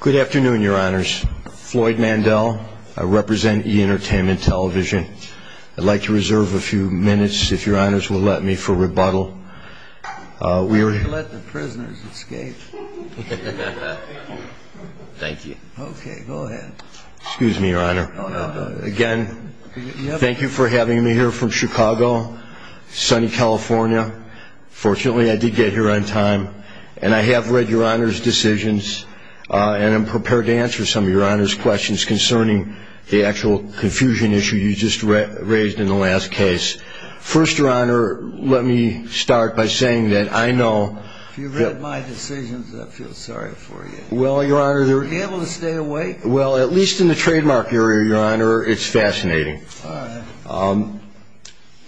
Good afternoon, your honors. Floyd Mandel, I represent E! Entertainment Television. I'd like to reserve a few minutes, if your honors will let me, for rebuttal. Uh, we were... Let the prisoners escape. Thank you. Okay, go ahead. Excuse me, your honor. Again, thank you for having me here from Chicago, sunny California. Fortunately, I did get here on time, and I have read your honor's decisions. And I'm prepared to answer some of your honor's questions concerning the actual confusion issue you just raised in the last case. First, your honor, let me start by saying that I know... If you've read my decisions, I feel sorry for you. Well, your honor... Are you able to stay awake? Well, at least in the trademark area, your honor, it's fascinating.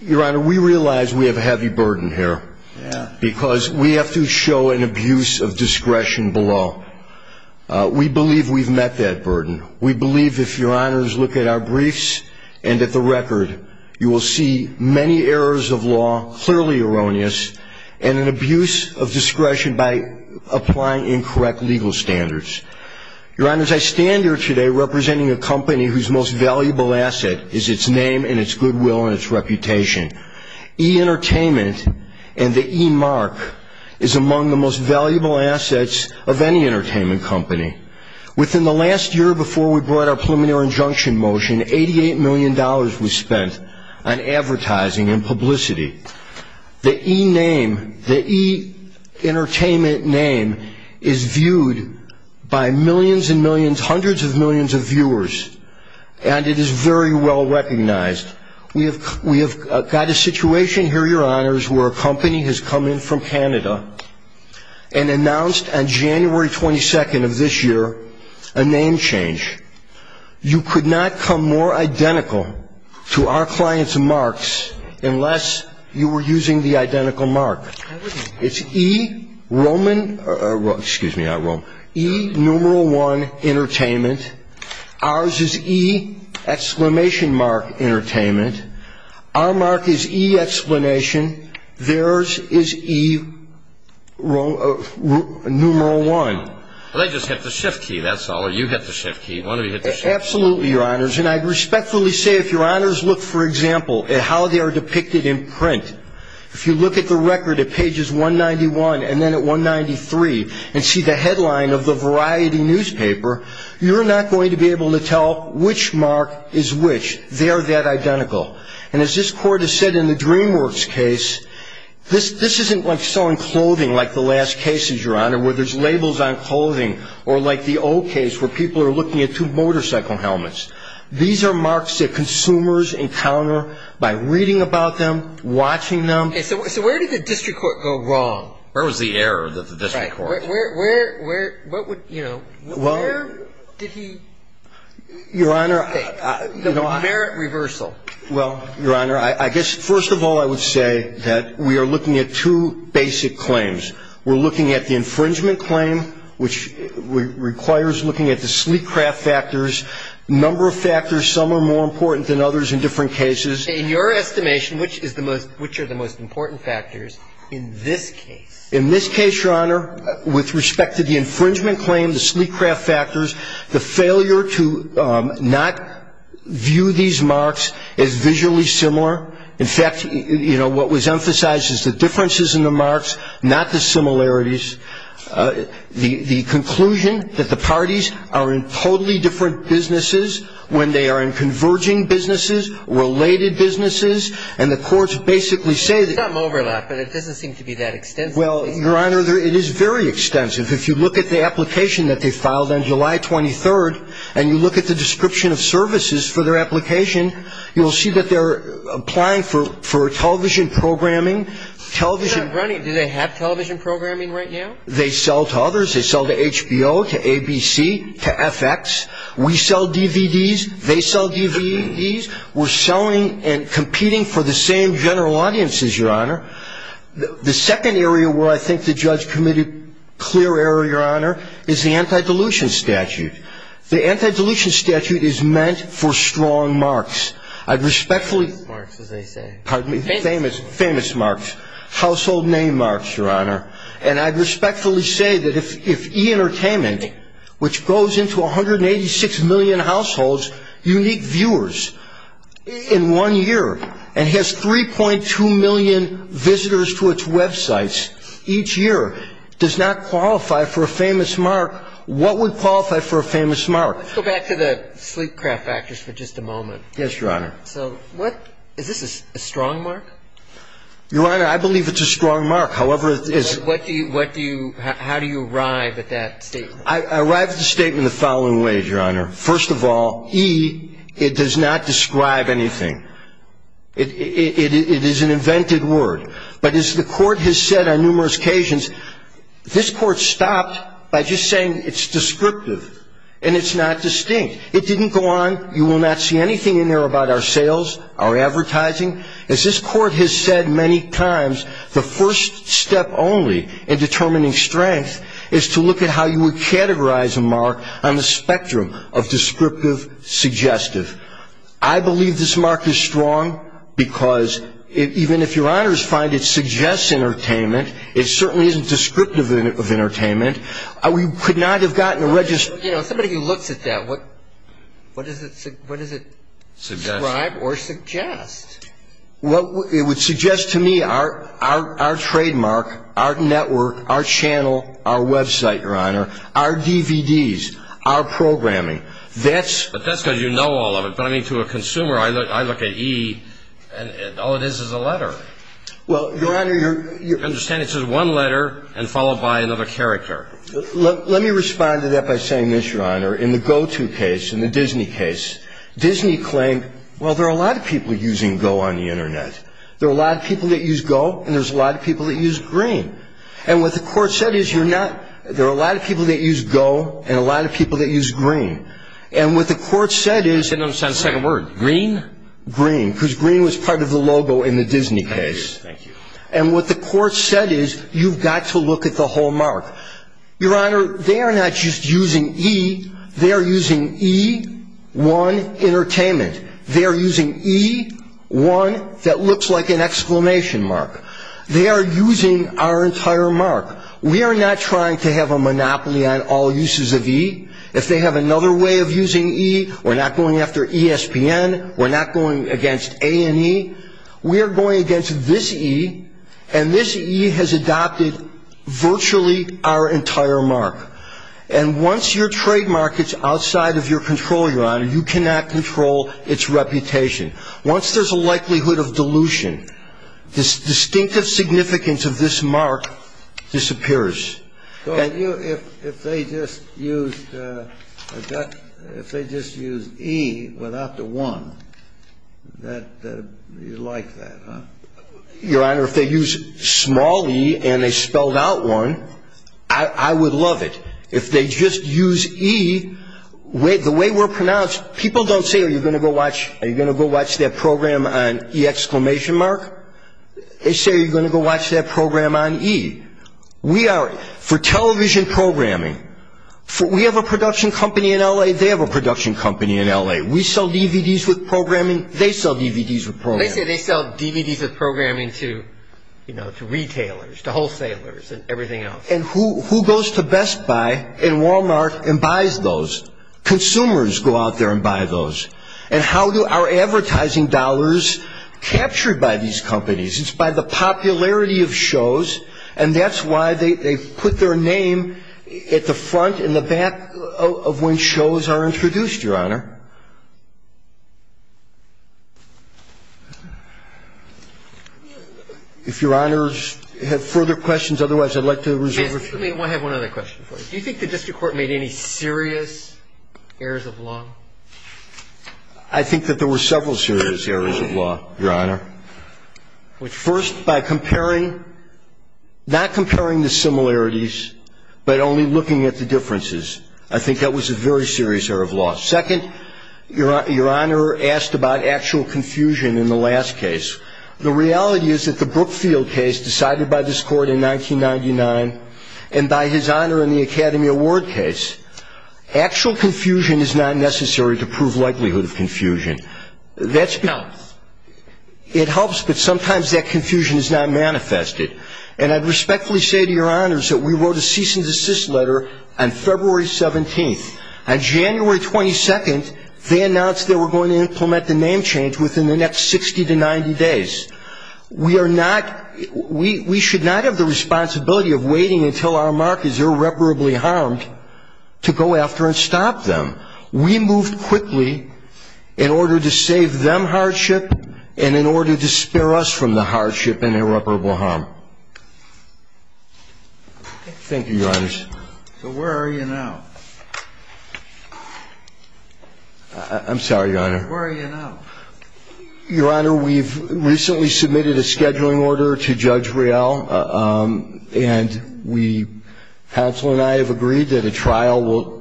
Your honor, we realize we have a heavy burden here. Because we have to show an abuse of discretion below. We believe we've met that burden. We believe, if your honors look at our briefs and at the record, you will see many errors of law, clearly erroneous, and an abuse of discretion by applying incorrect legal standards. Your honors, I stand here today representing a company whose most valuable asset is its name and its goodwill and its reputation. E-Entertainment and the E-Mark is among the most valuable assets of any entertainment company. Within the last year before we brought our preliminary injunction motion, $88 million was spent on advertising and publicity. The E-Name, the E-Entertainment name is viewed by millions and millions, hundreds of millions of viewers. And it is very well recognized. We have got a situation here, your honors, where a company has come in from Canada and announced on January 22nd of this year a name change. You could not come more identical to our client's marks unless you were using the identical mark. It's E-Roman, excuse me, E-Numeral One Entertainment. Ours is E-Exclamation Mark Entertainment. Our mark is E-Explanation. Theirs is E-Numeral One. Well, they just hit the shift key, that's all. Or you hit the shift key. One of you hit the shift key. Absolutely, your honors. And I'd respectfully say if your honors look, for example, at how they are depicted in print, if you look at the record at pages 191 and then at 193 and see the headline of the Variety newspaper, you're not going to be able to tell which mark is which. They are that identical. And as this court has said in the DreamWorks case, this isn't like selling clothing like the last cases, your honor, where there's labels on clothing or like the old case where people are looking at two motorcycle helmets. These are marks that consumers encounter by reading about them, watching them. And so where did the district court go wrong? Where was the error that the district court? Where, where, where, what would, you know, where did he take the merit reversal? Well, your honor, I guess first of all, I would say that we are looking at two basic claims. We're looking at the infringement claim, which requires looking at the sleek craft factors, number of factors. Some are more important than others in different cases. In your estimation, which is the most, which are the most important factors in this case? In this case, your honor, with respect to the infringement claim, the sleek craft factors, the failure to not view these marks is visually similar. In fact, you know, what was emphasized is the differences in the marks, not the similarities. The conclusion that the parties are in totally different businesses when they are in converging businesses, related businesses. And the courts basically say that overlap, but it doesn't seem to be that extensive. Your honor, it is very extensive. If you look at the application that they filed on July 23rd, and you look at the description of services for their application, you'll see that they're applying for television programming, television. Do they have television programming right now? They sell to others. They sell to HBO, to ABC, to FX. We sell DVDs. They sell DVDs. We're selling and competing for the same general audiences, your honor. The second area where I think the judge committed clear error, your honor, is the anti-dilution statute. The anti-dilution statute is meant for strong marks. I'd respectfully- Marks, as they say. Pardon me? Famous marks. Famous marks. Household name marks, your honor. And I'd respectfully say that if e-entertainment, which goes into 186 million households, unique viewers in one year, and has 3.2 million visitors to its websites each year, does not qualify for a famous mark, what would qualify for a famous mark? Let's go back to the sleep craft factors for just a moment. Yes, your honor. So what, is this a strong mark? Your honor, I believe it's a strong mark. However, it is- What do you, what do you, how do you arrive at that statement? I arrive at the statement the following way, your honor. First of all, E, it does not describe anything. It is an invented word. But as the court has said on numerous occasions, this court stopped by just saying it's descriptive and it's not distinct. It didn't go on, you will not see anything in there about our sales, our advertising. As this court has said many times, the first step only in determining strength is to look at how you would categorize a mark on the spectrum of descriptive, suggestive. I believe this mark is strong because even if your honors find it suggests entertainment, it certainly isn't descriptive of entertainment. We could not have gotten a register- You know, somebody who looks at that, what, what does it, what does it- Suggest. Describe or suggest? What it would suggest to me, our, our, our trademark, our network, our channel, our website, your honor, our DVDs, our programming. That's- But that's because you know all of it. But I mean, to a consumer, I look, I look at E and all it is is a letter. Well, your honor, you're- Understand it's just one letter and followed by another character. Let me respond to that by saying this, your honor, in the GOTO case, in the Disney case, Disney claimed, well, there are a lot of people using go on the internet. There are a lot of people that use go and there's a lot of people that use green. And what the court said is you're not, there are a lot of people that use go and a lot of people that use green. And what the court said is- I don't understand the second word, green? Green, because green was part of the logo in the Disney case. Thank you. And what the court said is you've got to look at the whole mark. Your honor, they are not just using E, they are using E, one, entertainment. They are using E, one, that looks like an exclamation mark. They are using our entire mark. We are not trying to have a monopoly on all uses of E. If they have another way of using E, we're not going after ESPN. We're not going against A&E. We are going against this E, and this E has adopted virtually our entire mark. And once your trademark is outside of your control, your honor, you cannot control its reputation. Once there's a likelihood of dilution, this distinctive significance of this mark disappears. So if they just used E without the one, you'd like that, huh? Your honor, if they use small E and they spelled out one, I would love it. If they just use E, the way we're pronounced, people don't say, are you going to go watch that program on E exclamation mark? They say, are you going to go watch that program on E? We are, for television programming, we have a production company in L.A., they have a production company in L.A. We sell DVDs with programming, they sell DVDs with programming. They say they sell DVDs with programming to retailers, to wholesalers, and everything else. And who goes to Best Buy and Walmart and buys those? Consumers go out there and buy those. And how do our advertising dollars, captured by these companies, it's by the popularity of shows, and that's why they put their name at the front and the back of when shows are introduced, your honor. If your honors have further questions, otherwise, I'd like to reserve a few. Let me have one other question for you. Do you think the district court made any serious errors of law? I think that there were several serious errors of law, your honor. Which, first, by comparing, not comparing the similarities, but only looking at the differences. I think that was a very serious error of law. Second, your honor asked about actual confusion in the last case. The reality is that the Brookfield case, decided by this court in 1999, and by his honor in the Academy Award case, actual confusion is not necessary to prove likelihood of confusion. That's, it helps, but sometimes that confusion is not manifested. And I respectfully say to your honors that we wrote a cease and desist letter on February 17th. On January 22nd, they announced they were going to implement the name change within the next 60 to 90 days. We are not, we should not have the responsibility of waiting until our mark is irreparably harmed to go after and stop them. We moved quickly in order to save them hardship and in order to spare us from the hardship and irreparable harm. Thank you, your honors. So where are you now? I'm sorry, your honor. Where are you now? Your honor, we've recently submitted a scheduling order to Judge Real, and we, counsel and I have agreed that a trial will...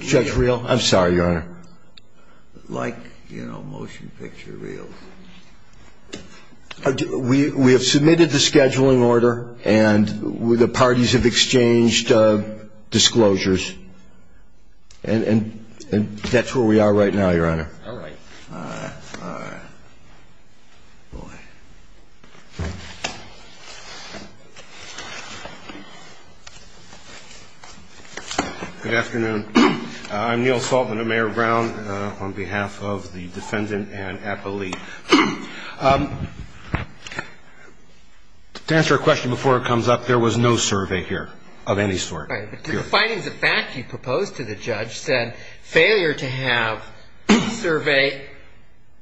Judge Real? I'm sorry, your honor. Like, you know, motion picture reels. We have submitted the scheduling order and the parties have exchanged disclosures. And that's where we are right now, your honor. All right. Good afternoon. I'm Neil Saltman, a mayor of Brown, on behalf of the defendant and appellee. To answer a question before it comes up, there was no survey here of any sort. Right, but the findings of fact you proposed to the judge said failure to have survey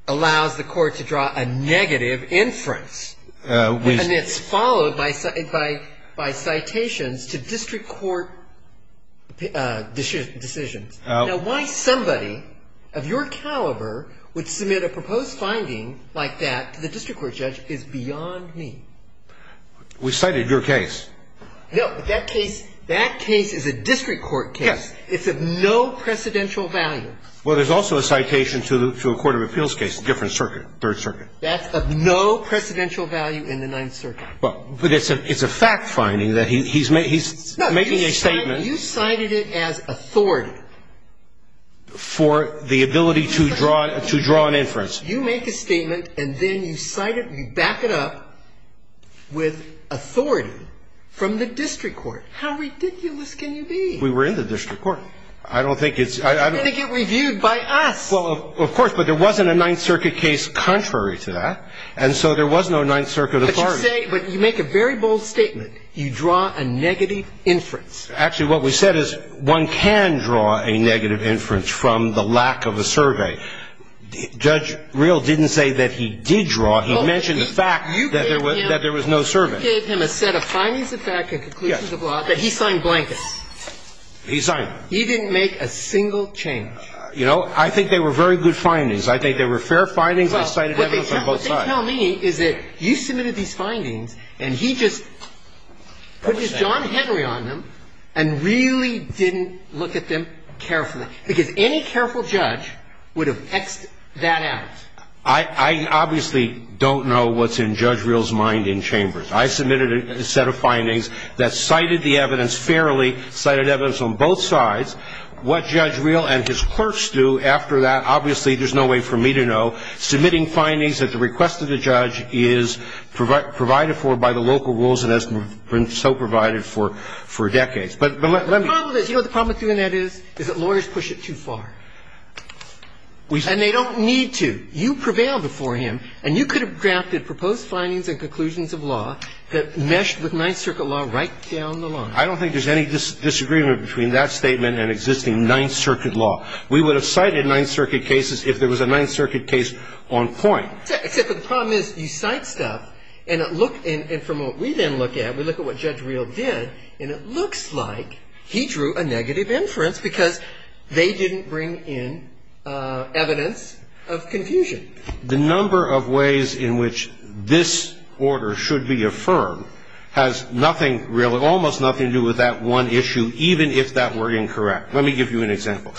allows the court to draw a negative inference. And it's followed by citations to district court decisions. Now, why somebody of your caliber would submit a proposed finding like that to the district court judge is beyond me. We cited your case. No, that case is a district court case. It's of no precedential value. Well, there's also a citation to a court of appeals case, a different circuit, third circuit. That's of no precedential value in the Ninth Circuit. But it's a fact finding that he's making a statement. You cited it as authority. For the ability to draw an inference. You make a statement and then you cite it, you back it up with authority from the district court. How ridiculous can you be? We were in the district court. I don't think it's... I don't think it reviewed by us. Of course. But there wasn't a Ninth Circuit case contrary to that. And so there was no Ninth Circuit authority. But you make a very bold statement. You draw a negative inference. Actually, what we said is one can draw a negative inference from the lack of a survey. Judge Real didn't say that he did draw. He mentioned the fact that there was no survey. You gave him a set of findings of fact and conclusions of law that he signed blankets. He signed them. He didn't make a single change. You know, I think they were very good findings. I think they were fair findings. Well, what they tell me is that you submitted these findings and he just put his John Henry on them and really didn't look at them carefully. Because any careful judge would have X'd that out. I obviously don't know what's in Judge Real's mind in chambers. I submitted a set of findings that cited the evidence fairly, cited evidence on both sides. What Judge Real and his clerks do after that, obviously, there's no way for me to know. Submitting findings at the request of the judge is provided for by the local rules that has been so provided for decades. But let me be clear. You know what the problem with doing that is? Is that lawyers push it too far. And they don't need to. You prevailed before him. And you could have drafted proposed findings and conclusions of law that meshed with Ninth Circuit law right down the line. I don't think there's any disagreement between that statement and existing Ninth Circuit law. We would have cited Ninth Circuit cases if there was a Ninth Circuit case on point. Except the problem is you cite stuff and look and from what we then look at, we look at what Judge Real did and it looks like he drew a negative inference because they didn't bring in evidence of confusion. The number of ways in which this order should be affirmed has nothing, really, almost nothing to do with that one issue, even if that were incorrect. Let me give you an example.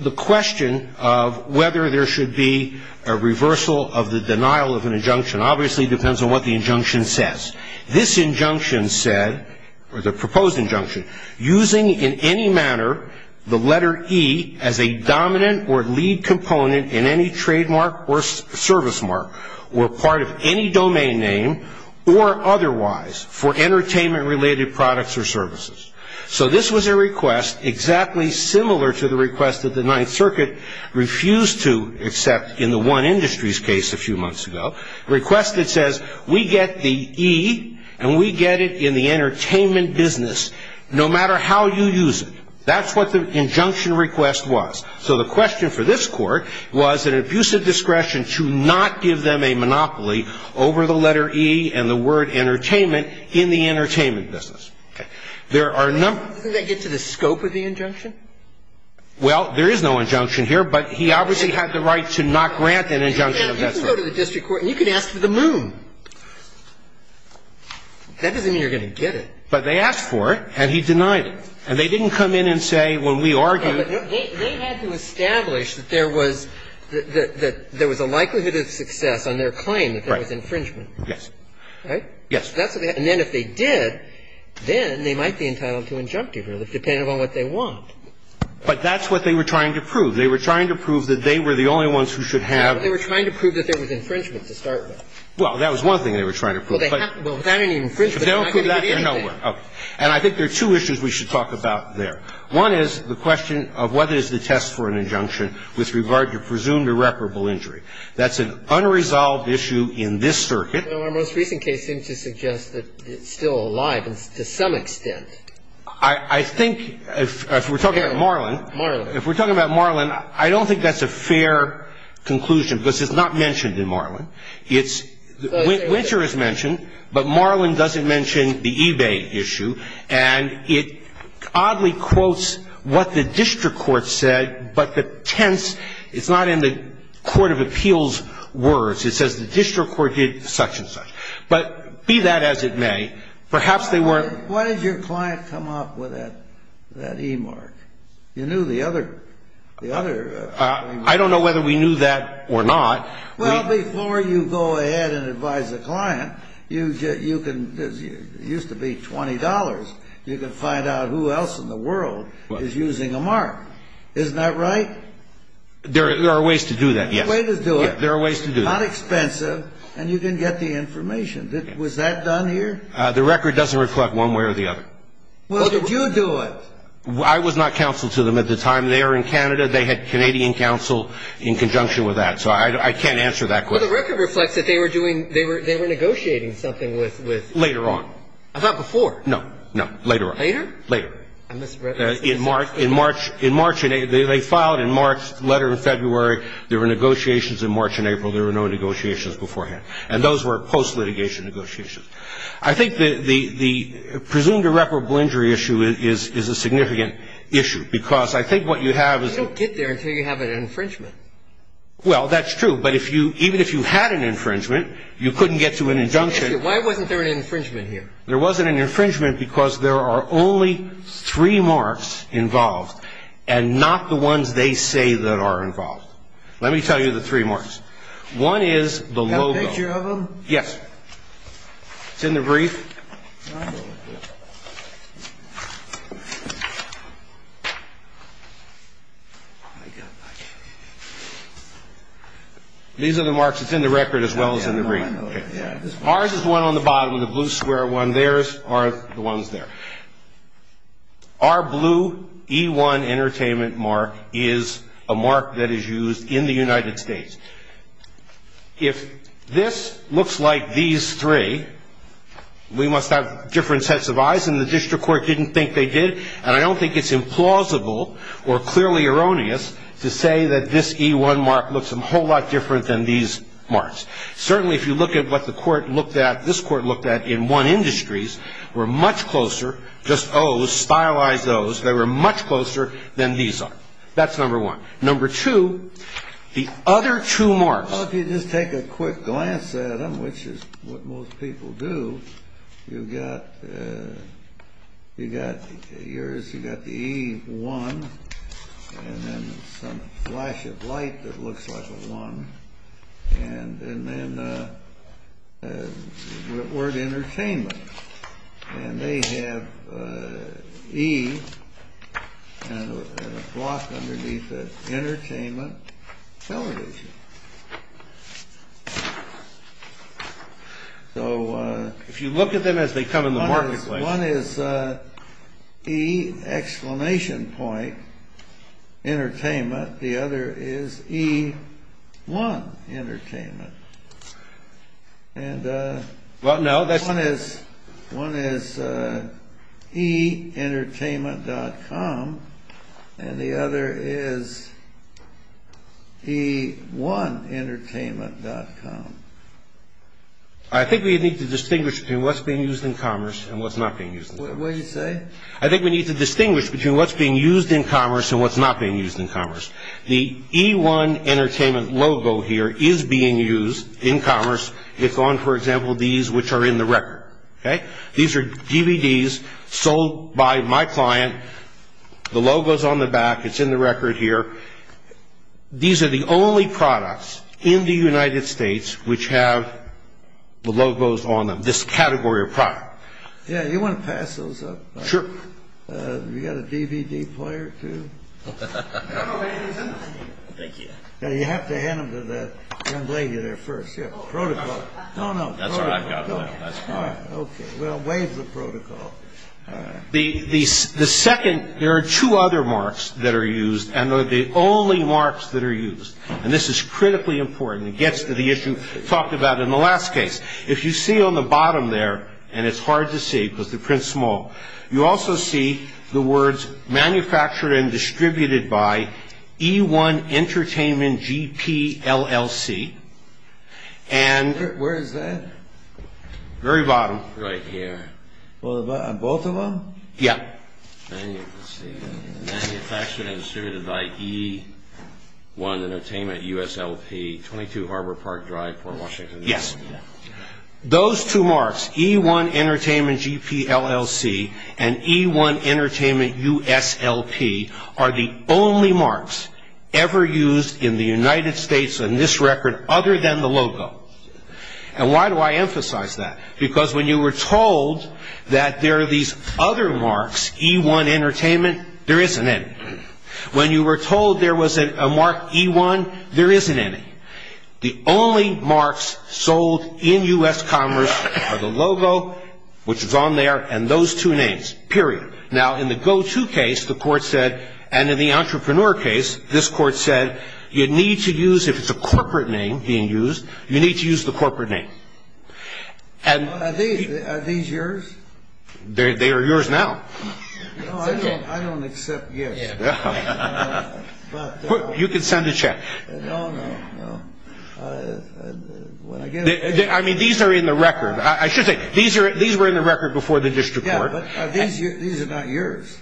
The question of whether there should be a reversal of the denial of an injunction obviously depends on what the injunction says. This injunction said, or the proposed injunction, using in any manner the letter E as a dominant or lead component in any trademark or service mark or part of any entertainment-related products or services. So this was a request exactly similar to the request that the Ninth Circuit refused to accept in the One Industries case a few months ago, a request that says, we get the E and we get it in the entertainment business no matter how you use it. That's what the injunction request was. So the question for this Court was an abusive discretion to not give them a monopoly over the letter E and the word entertainment in the entertainment business. Okay. There are a number... Doesn't that get to the scope of the injunction? Well, there is no injunction here, but he obviously had the right to not grant an injunction of that sort. You can go to the district court and you can ask for the moon. That doesn't mean you're going to get it. But they asked for it and he denied it. And they didn't come in and say, when we argued... Okay, but they had to establish that there was a likelihood of success on their claim. Right. That there was infringement. Yes. Right? Yes. And then if they did, then they might be entitled to injunctive relief, depending on what they want. But that's what they were trying to prove. They were trying to prove that they were the only ones who should have... They were trying to prove that there was infringement to start with. Well, that was one thing they were trying to prove. Well, without any infringement, they're not going to get anything. If they don't prove that, they're nowhere. Okay. And I think there are two issues we should talk about there. One is the question of what is the test for an injunction with regard to presumed irreparable injury. That's an unresolved issue in this circuit. Well, our most recent case seems to suggest that it's still alive to some extent. I think if we're talking about Marlin... Marlin. If we're talking about Marlin, I don't think that's a fair conclusion, because it's not mentioned in Marlin. It's... Winter is mentioned, but Marlin doesn't mention the eBay issue. And it oddly quotes what the district court said, but the tense... Court of Appeals words, it says the district court did such and such. But be that as it may, perhaps they weren't... Why did your client come up with that e-mark? You knew the other... I don't know whether we knew that or not. Well, before you go ahead and advise the client, you can... It used to be $20. You can find out who else in the world is using a mark. Isn't that right? There are ways to do that, yes. Way to do it. There are ways to do it. Not expensive, and you can get the information. Was that done here? The record doesn't reflect one way or the other. Well, did you do it? I was not counsel to them at the time. They are in Canada. They had Canadian counsel in conjunction with that. So I can't answer that question. Well, the record reflects that they were doing... They were negotiating something with... Later on. I thought before. No, no. Later on. Later? Later. I misread... In March. In March. In March. They filed in March, letter in February. There were negotiations in March and April. There were no negotiations beforehand. And those were post-litigation negotiations. I think the presumed irreparable injury issue is a significant issue, because I think what you have is... You don't get there until you have an infringement. Well, that's true. But if you... Even if you had an infringement, you couldn't get to an injunction. Why wasn't there an infringement here? There wasn't an infringement because there are only three marks involved and not the ones they say that are involved. Let me tell you the three marks. One is the logo. Can I have a picture of them? Yes. It's in the brief. These are the marks. It's in the record as well as in the brief. Ours is the one on the bottom, the blue square one. Theirs are the ones there. Our blue E1 entertainment mark is a mark that is used in the United States. If this looks like these three, we must have different sets of eyes. And the district court didn't think they did. And I don't think it's implausible or clearly erroneous to say that this E1 mark looks a whole lot different than these marks. Certainly, if you look at what the court looked at, this court looked at in one industries, were much closer, just O's, stylized O's. They were much closer than these are. That's number one. Number two, the other two marks. Well, if you just take a quick glance at them, which is what most people do, you've got yours, you've got the E1, and then some flash of light that looks like a 1, and then the word entertainment. And they have E and a block underneath it, entertainment television. So if you look at them as they come in the marketplace. One is E exclamation point entertainment. The other is E1 entertainment. And one is E entertainment dot com. And the other is E1 entertainment dot com. I think we need to distinguish between what's being used in commerce and what's not being used in commerce. What did you say? I think we need to distinguish between what's being used in commerce and what's not being used in commerce. The E1 entertainment logo here is being used in commerce. It's on, for example, these which are in the record. Okay? These are DVDs sold by my client. The logo's on the back. It's in the record here. These are the only products in the United States which have the logos on them. This category of product. Yeah. You want to pass those up? Sure. You got a DVD player, too? No. Thank you. You have to hand them to the young lady there first. Yeah. Protocol. No, no. That's what I've got. That's fine. All right. Okay. Well, waive the protocol. All right. The second, there are two other marks that are used. And they're the only marks that are used. And this is critically important. It gets to the issue talked about in the last case. If you see on the bottom there, and it's hard to see because the print's small, you also see the words, Manufactured and Distributed by E1 Entertainment, GPLLC. And... Where is that? Very bottom. Right here. Both of them? Yeah. Then you can see, Manufactured and Distributed by E1 Entertainment, USLP, 22 Harbor Park Drive, Port Washington. Yes. Those two marks, E1 Entertainment, GPLLC, and E1 Entertainment, USLP, are the only marks ever used in the United States on this record other than the logo. And why do I emphasize that? Because when you were told that there are these other marks, E1 Entertainment, there isn't any. When you were told there was a mark E1, there isn't any. The only marks sold in US commerce are the logo, which is on there, and those two names, period. Now, in the go-to case, the court said, and in the entrepreneur case, this court said, you need to use, if it's a corporate name being used, you need to use the corporate name. Are these yours? They are yours now. No, I don't accept gifts. You can send a check. I mean, these are in the record. I should say, these were in the record before the district court. Yeah, but these are not yours.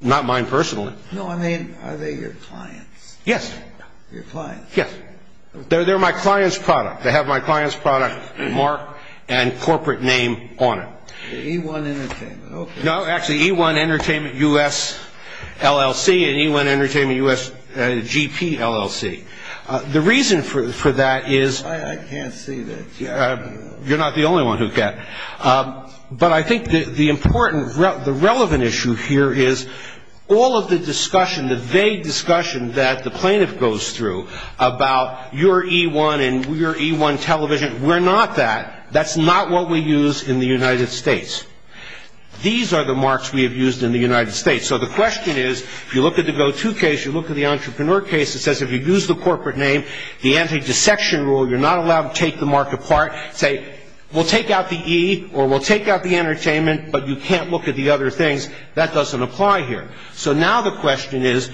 Not mine personally. No, I mean, are they your clients? Yes. Your clients? Yes. They're my client's product. They have my client's product mark and corporate name on it. E1 Entertainment, okay. No, actually, E1 Entertainment, US LLC, and E1 Entertainment, US GP, LLC. The reason for that is... I can't see that. You're not the only one who can. But I think the important, the relevant issue here is all of the discussion, the vague discussion that the plaintiff goes through about your E1 and your E1 television, we're not that. That's not what we use in the United States. These are the marks we have used in the United States. So the question is, if you look at the go-to case, you look at the entrepreneur case, it says if you use the corporate name, the anti-dissection rule, you're not allowed to take the mark apart. Say, we'll take out the E, or we'll take out the entertainment, but you can't look at the other things. That doesn't apply here. So now the question is,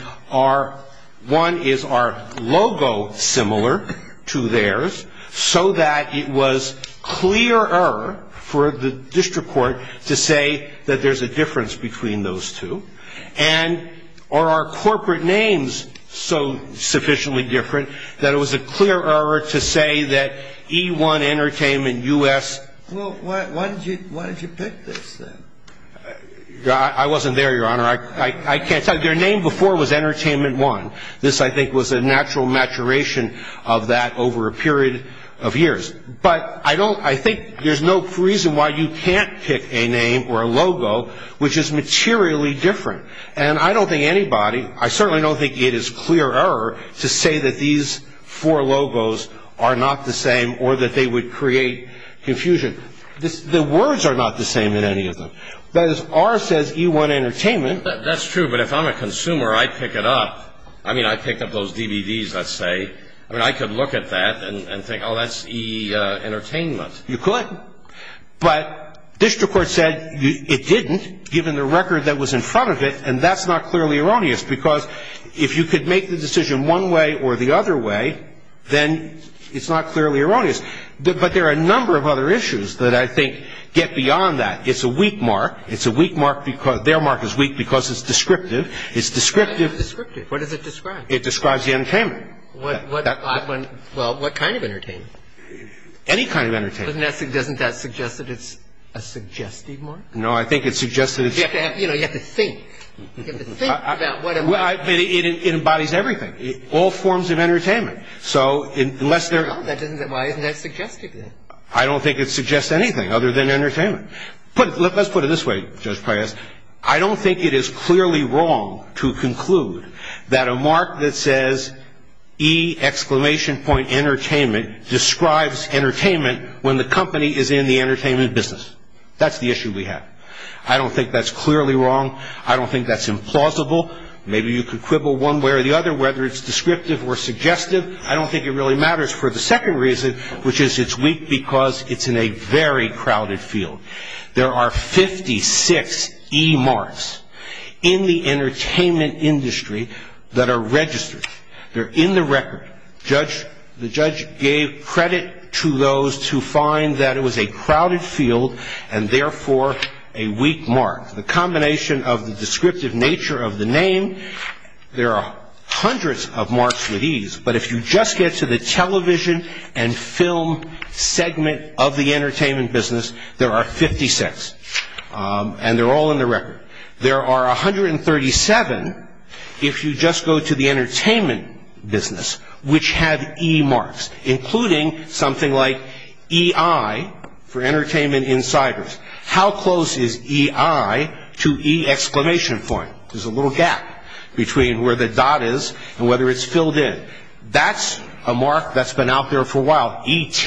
one, is our logo similar to theirs so that it was clearer for the district court to say that there's a difference between those two? And are our corporate names so sufficiently different that it was a clearer to say that E1 Entertainment, US... Well, why did you pick this then? I wasn't there, Your Honor. I can't tell you. Their name before was Entertainment One. This, I think, was a natural maturation of that over a period of years. But I think there's no reason why you can't pick a name or a logo which is materially different. And I don't think anybody, I certainly don't think it is clearer to say that these four logos are not the same or that they would create confusion. The words are not the same in any of them. But as R says, E1 Entertainment... That's true. But if I'm a consumer, I'd pick it up. I mean, I'd pick up those DVDs, let's say. I mean, I could look at that and think, oh, that's E Entertainment. You could. But district court said it didn't, given the record that was in front of it. And that's not clearly erroneous, because if you could make the decision one way or the other way, then it's not clearly erroneous. But there are a number of other issues that I think get beyond that. It's a weak mark. It's a weak mark because... Their mark is weak because it's descriptive. It's descriptive. Descriptive. What does it describe? It describes the entertainment. Well, what kind of entertainment? Any kind of entertainment. Doesn't that suggest that it's a suggestive mark? No, I think it suggests that it's... You have to think. You have to think about whatever... Well, it embodies everything. All forms of entertainment. So unless they're... No, that doesn't... Why isn't that suggestive then? I don't think it suggests anything other than entertainment. Let's put it this way, Judge Paius. I don't think it is clearly wrong to conclude that a mark that says E! Entertainment describes entertainment when the company is in the entertainment business. That's the issue we have. I don't think that's clearly wrong. I don't think that's implausible. Maybe you could quibble one way or the other, whether it's descriptive or suggestive. I don't think it really matters for the second reason, which is it's weak because it's in a very crowded field. There are 56 E! marks in the entertainment industry that are registered. They're in the record. The judge gave credit to those to find that it was a crowded field and therefore a weak mark. The combination of the descriptive nature of the name, there are hundreds of marks with E's. But if you just get to the television and film segment of the entertainment business, there are 56. And they're all in the record. There are 137 if you just go to the entertainment business, which have E marks, including something like EI for entertainment insiders. How close is EI to E! There's a little gap between where the dot is and whether it's filled in. That's a mark that's been out there for a while. ET,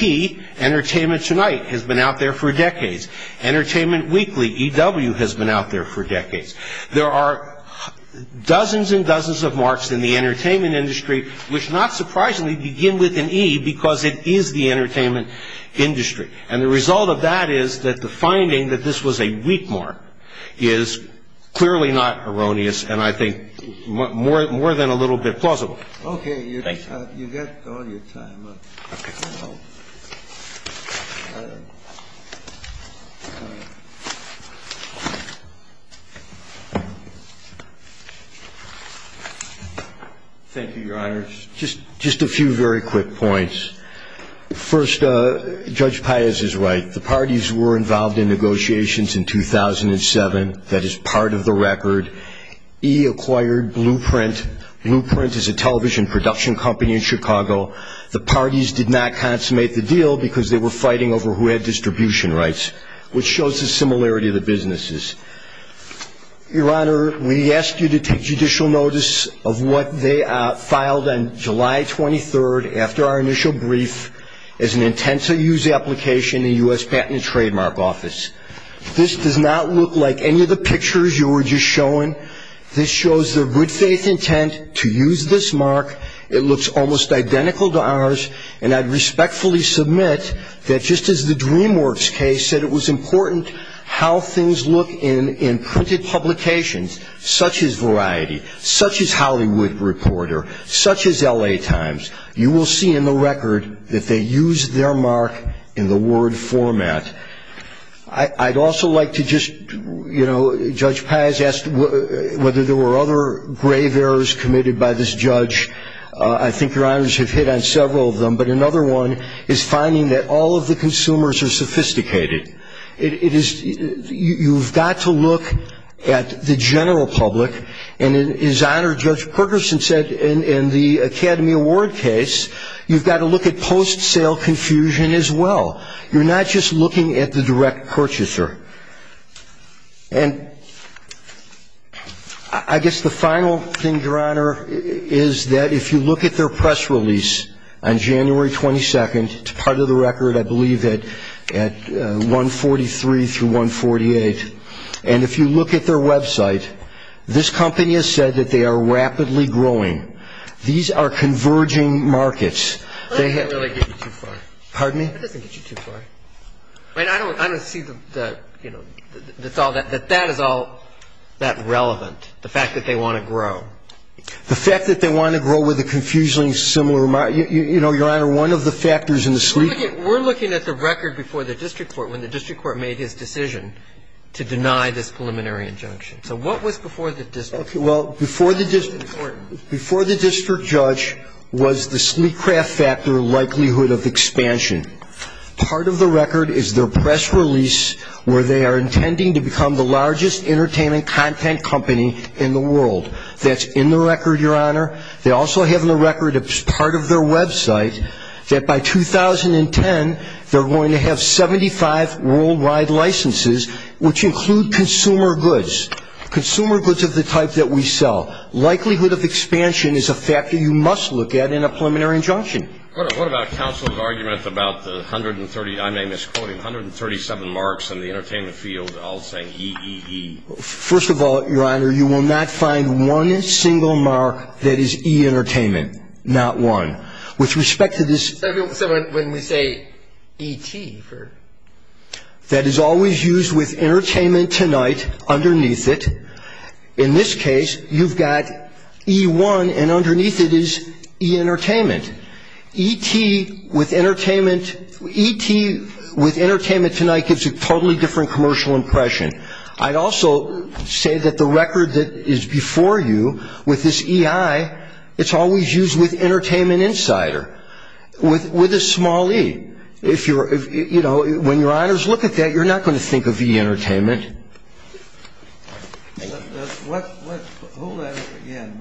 Entertainment Tonight, has been out there for decades. Entertainment Weekly, EW, has been out there for decades. There are dozens and dozens of marks in the entertainment industry, which not surprisingly begin with an E because it is the entertainment industry. And the result of that is that the finding that this was a weak mark is clearly not erroneous and I think more than a little bit plausible. Okay, you've got all your time up. Thank you, Your Honors. Just a few very quick points. First, Judge Pius is right. The parties were involved in negotiations in 2007. That is part of the record. E acquired Blueprint. Blueprint is a television production company in Chicago. The parties did not consummate the deal because they were fighting over who had distribution rights, which shows the similarity of the businesses. Your Honor, we ask you to take judicial notice of what they filed on July 23rd after our initial brief as an intent to use the application in the U.S. Patent and Trademark Office. This does not look like any of the pictures you were just showing. This shows their good faith intent to use this mark. It looks almost identical to ours. And I'd respectfully submit that just as the DreamWorks case said it was important how things look in printed publications, such as Variety, such as Hollywood Reporter, such as L.A. Times, you will see in the record that they used their mark in the Word format. I'd also like to just, you know, Judge Paz asked whether there were other grave errors committed by this judge. I think Your Honors have hit on several of them, but another one is finding that all of the consumers are sophisticated. You've got to look at the general public, and as Honor Judge Perkerson said in the Academy Award case, you've got to look at post-sale confusion as well. You're not just looking at the direct purchaser. And I guess the final thing, Your Honor, is that if you look at their press release on January 22nd, it's part of the record, I believe, at 143 through 148. And if you look at their website, this company has said that they are rapidly growing. These are converging markets. That doesn't really get you too far. Pardon me? That doesn't get you too far. I mean, I don't see that, you know, that's all that, that that is all that relevant, the fact that they want to grow. The fact that they want to grow with a confusing similar remark, you know, Your Honor, one of the factors in the sleep. We're looking at the record before the district court, when the district court made his decision to deny this preliminary injunction. So what was before the district court? Well, before the district court, before the district judge was the sleep craft factor likelihood of expansion. Part of the record is their press release, where they are intending to become the largest entertainment content company in the world. That's in the record, Your Honor. They also have in the record as part of their website that by 2010, they're going to have 75 worldwide licenses, which include consumer goods, consumer goods of the type that we sell. Likelihood of expansion is a factor you must look at in a preliminary injunction. What about counsel's argument about the 130, I may misquote him, 137 marks in the entertainment field? I'll say EEE. First of all, Your Honor, you will not find one single mark that is E entertainment, not one. With respect to this. When we say ET. That is always used with entertainment tonight underneath it. In this case, you've got E1 and underneath it is E entertainment. ET with entertainment, ET with entertainment tonight gives a totally different commercial impression. I'd also say that the record that is before you with this EI, it's always used with entertainment insider with a small E. If you're, you know, when Your Honors look at that, you're not going to think of E entertainment. Let's pull that up again.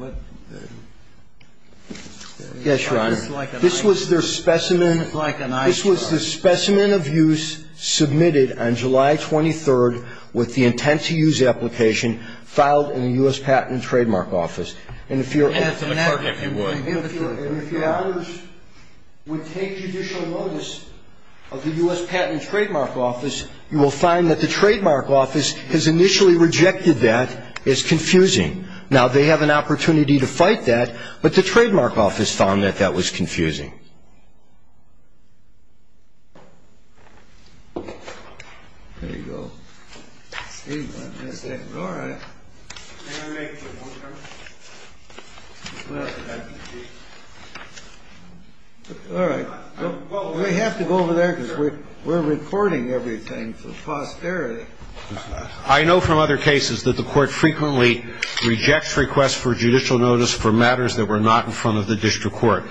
Yes, Your Honor. This was their specimen. This was the specimen of use submitted on July 23rd with the intent to use application filed in the U.S. Patent and Trademark Office. And if Your Honors would take judicial notice of the U.S. Patent and Trademark Office, you will find that the Trademark Office has initially rejected that as confusing. Now, they have an opportunity to fight that, but the Trademark Office found that that was confusing. There you go. All right. We have to go over there because we're reporting everything for posterity. I know from other cases that the Court frequently rejects requests for judicial notice for matters that were not in front of the District Court.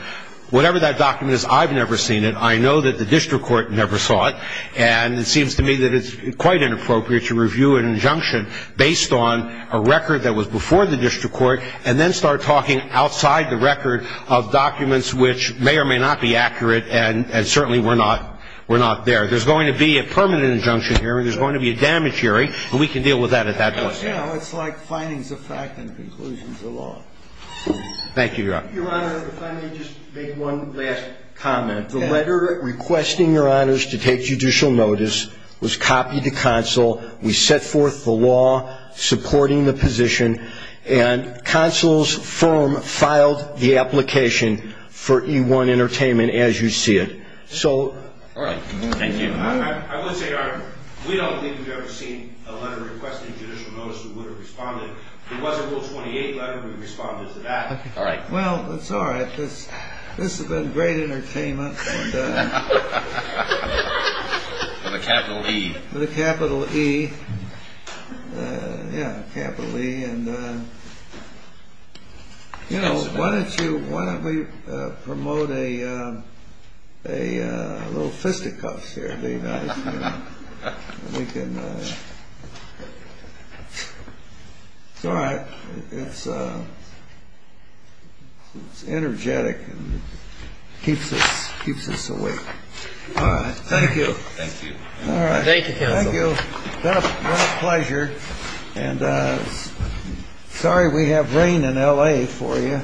Whatever that document is, I've never seen it. I know that the District Court never saw it. And it seems to me that it's quite inappropriate to review an injunction based on a record that was before the District Court and then start talking outside the record of documents which may or may not be accurate and certainly were not there. There's going to be a permanent injunction here. There's going to be a damage hearing, and we can deal with that at that point. You know, it's like findings of fact and conclusions of law. Thank you, Your Honor. Your Honor, if I may just make one last comment. The letter requesting Your Honors to take judicial notice was copied to Consul. We set forth the law supporting the position and Consul's firm filed the application for E-1 Entertainment as you see it. So... All right. Thank you. I would say, Your Honor, we don't think we've ever seen a letter requesting judicial notice that would have responded. It was a Rule 28 letter. We responded to that. All right. Well, it's all right. This has been great entertainment. And... With a capital E. With a capital E. Yeah, capital E. And, you know, why don't you... Why don't we promote a little fisticuffs here? That'd be nice. We can... It's all right. It's energetic and keeps us awake. All right. Thank you. Thank you. All right. Thank you, Counsel. Thank you. It's been a pleasure. And sorry we have rain in L.A. for you.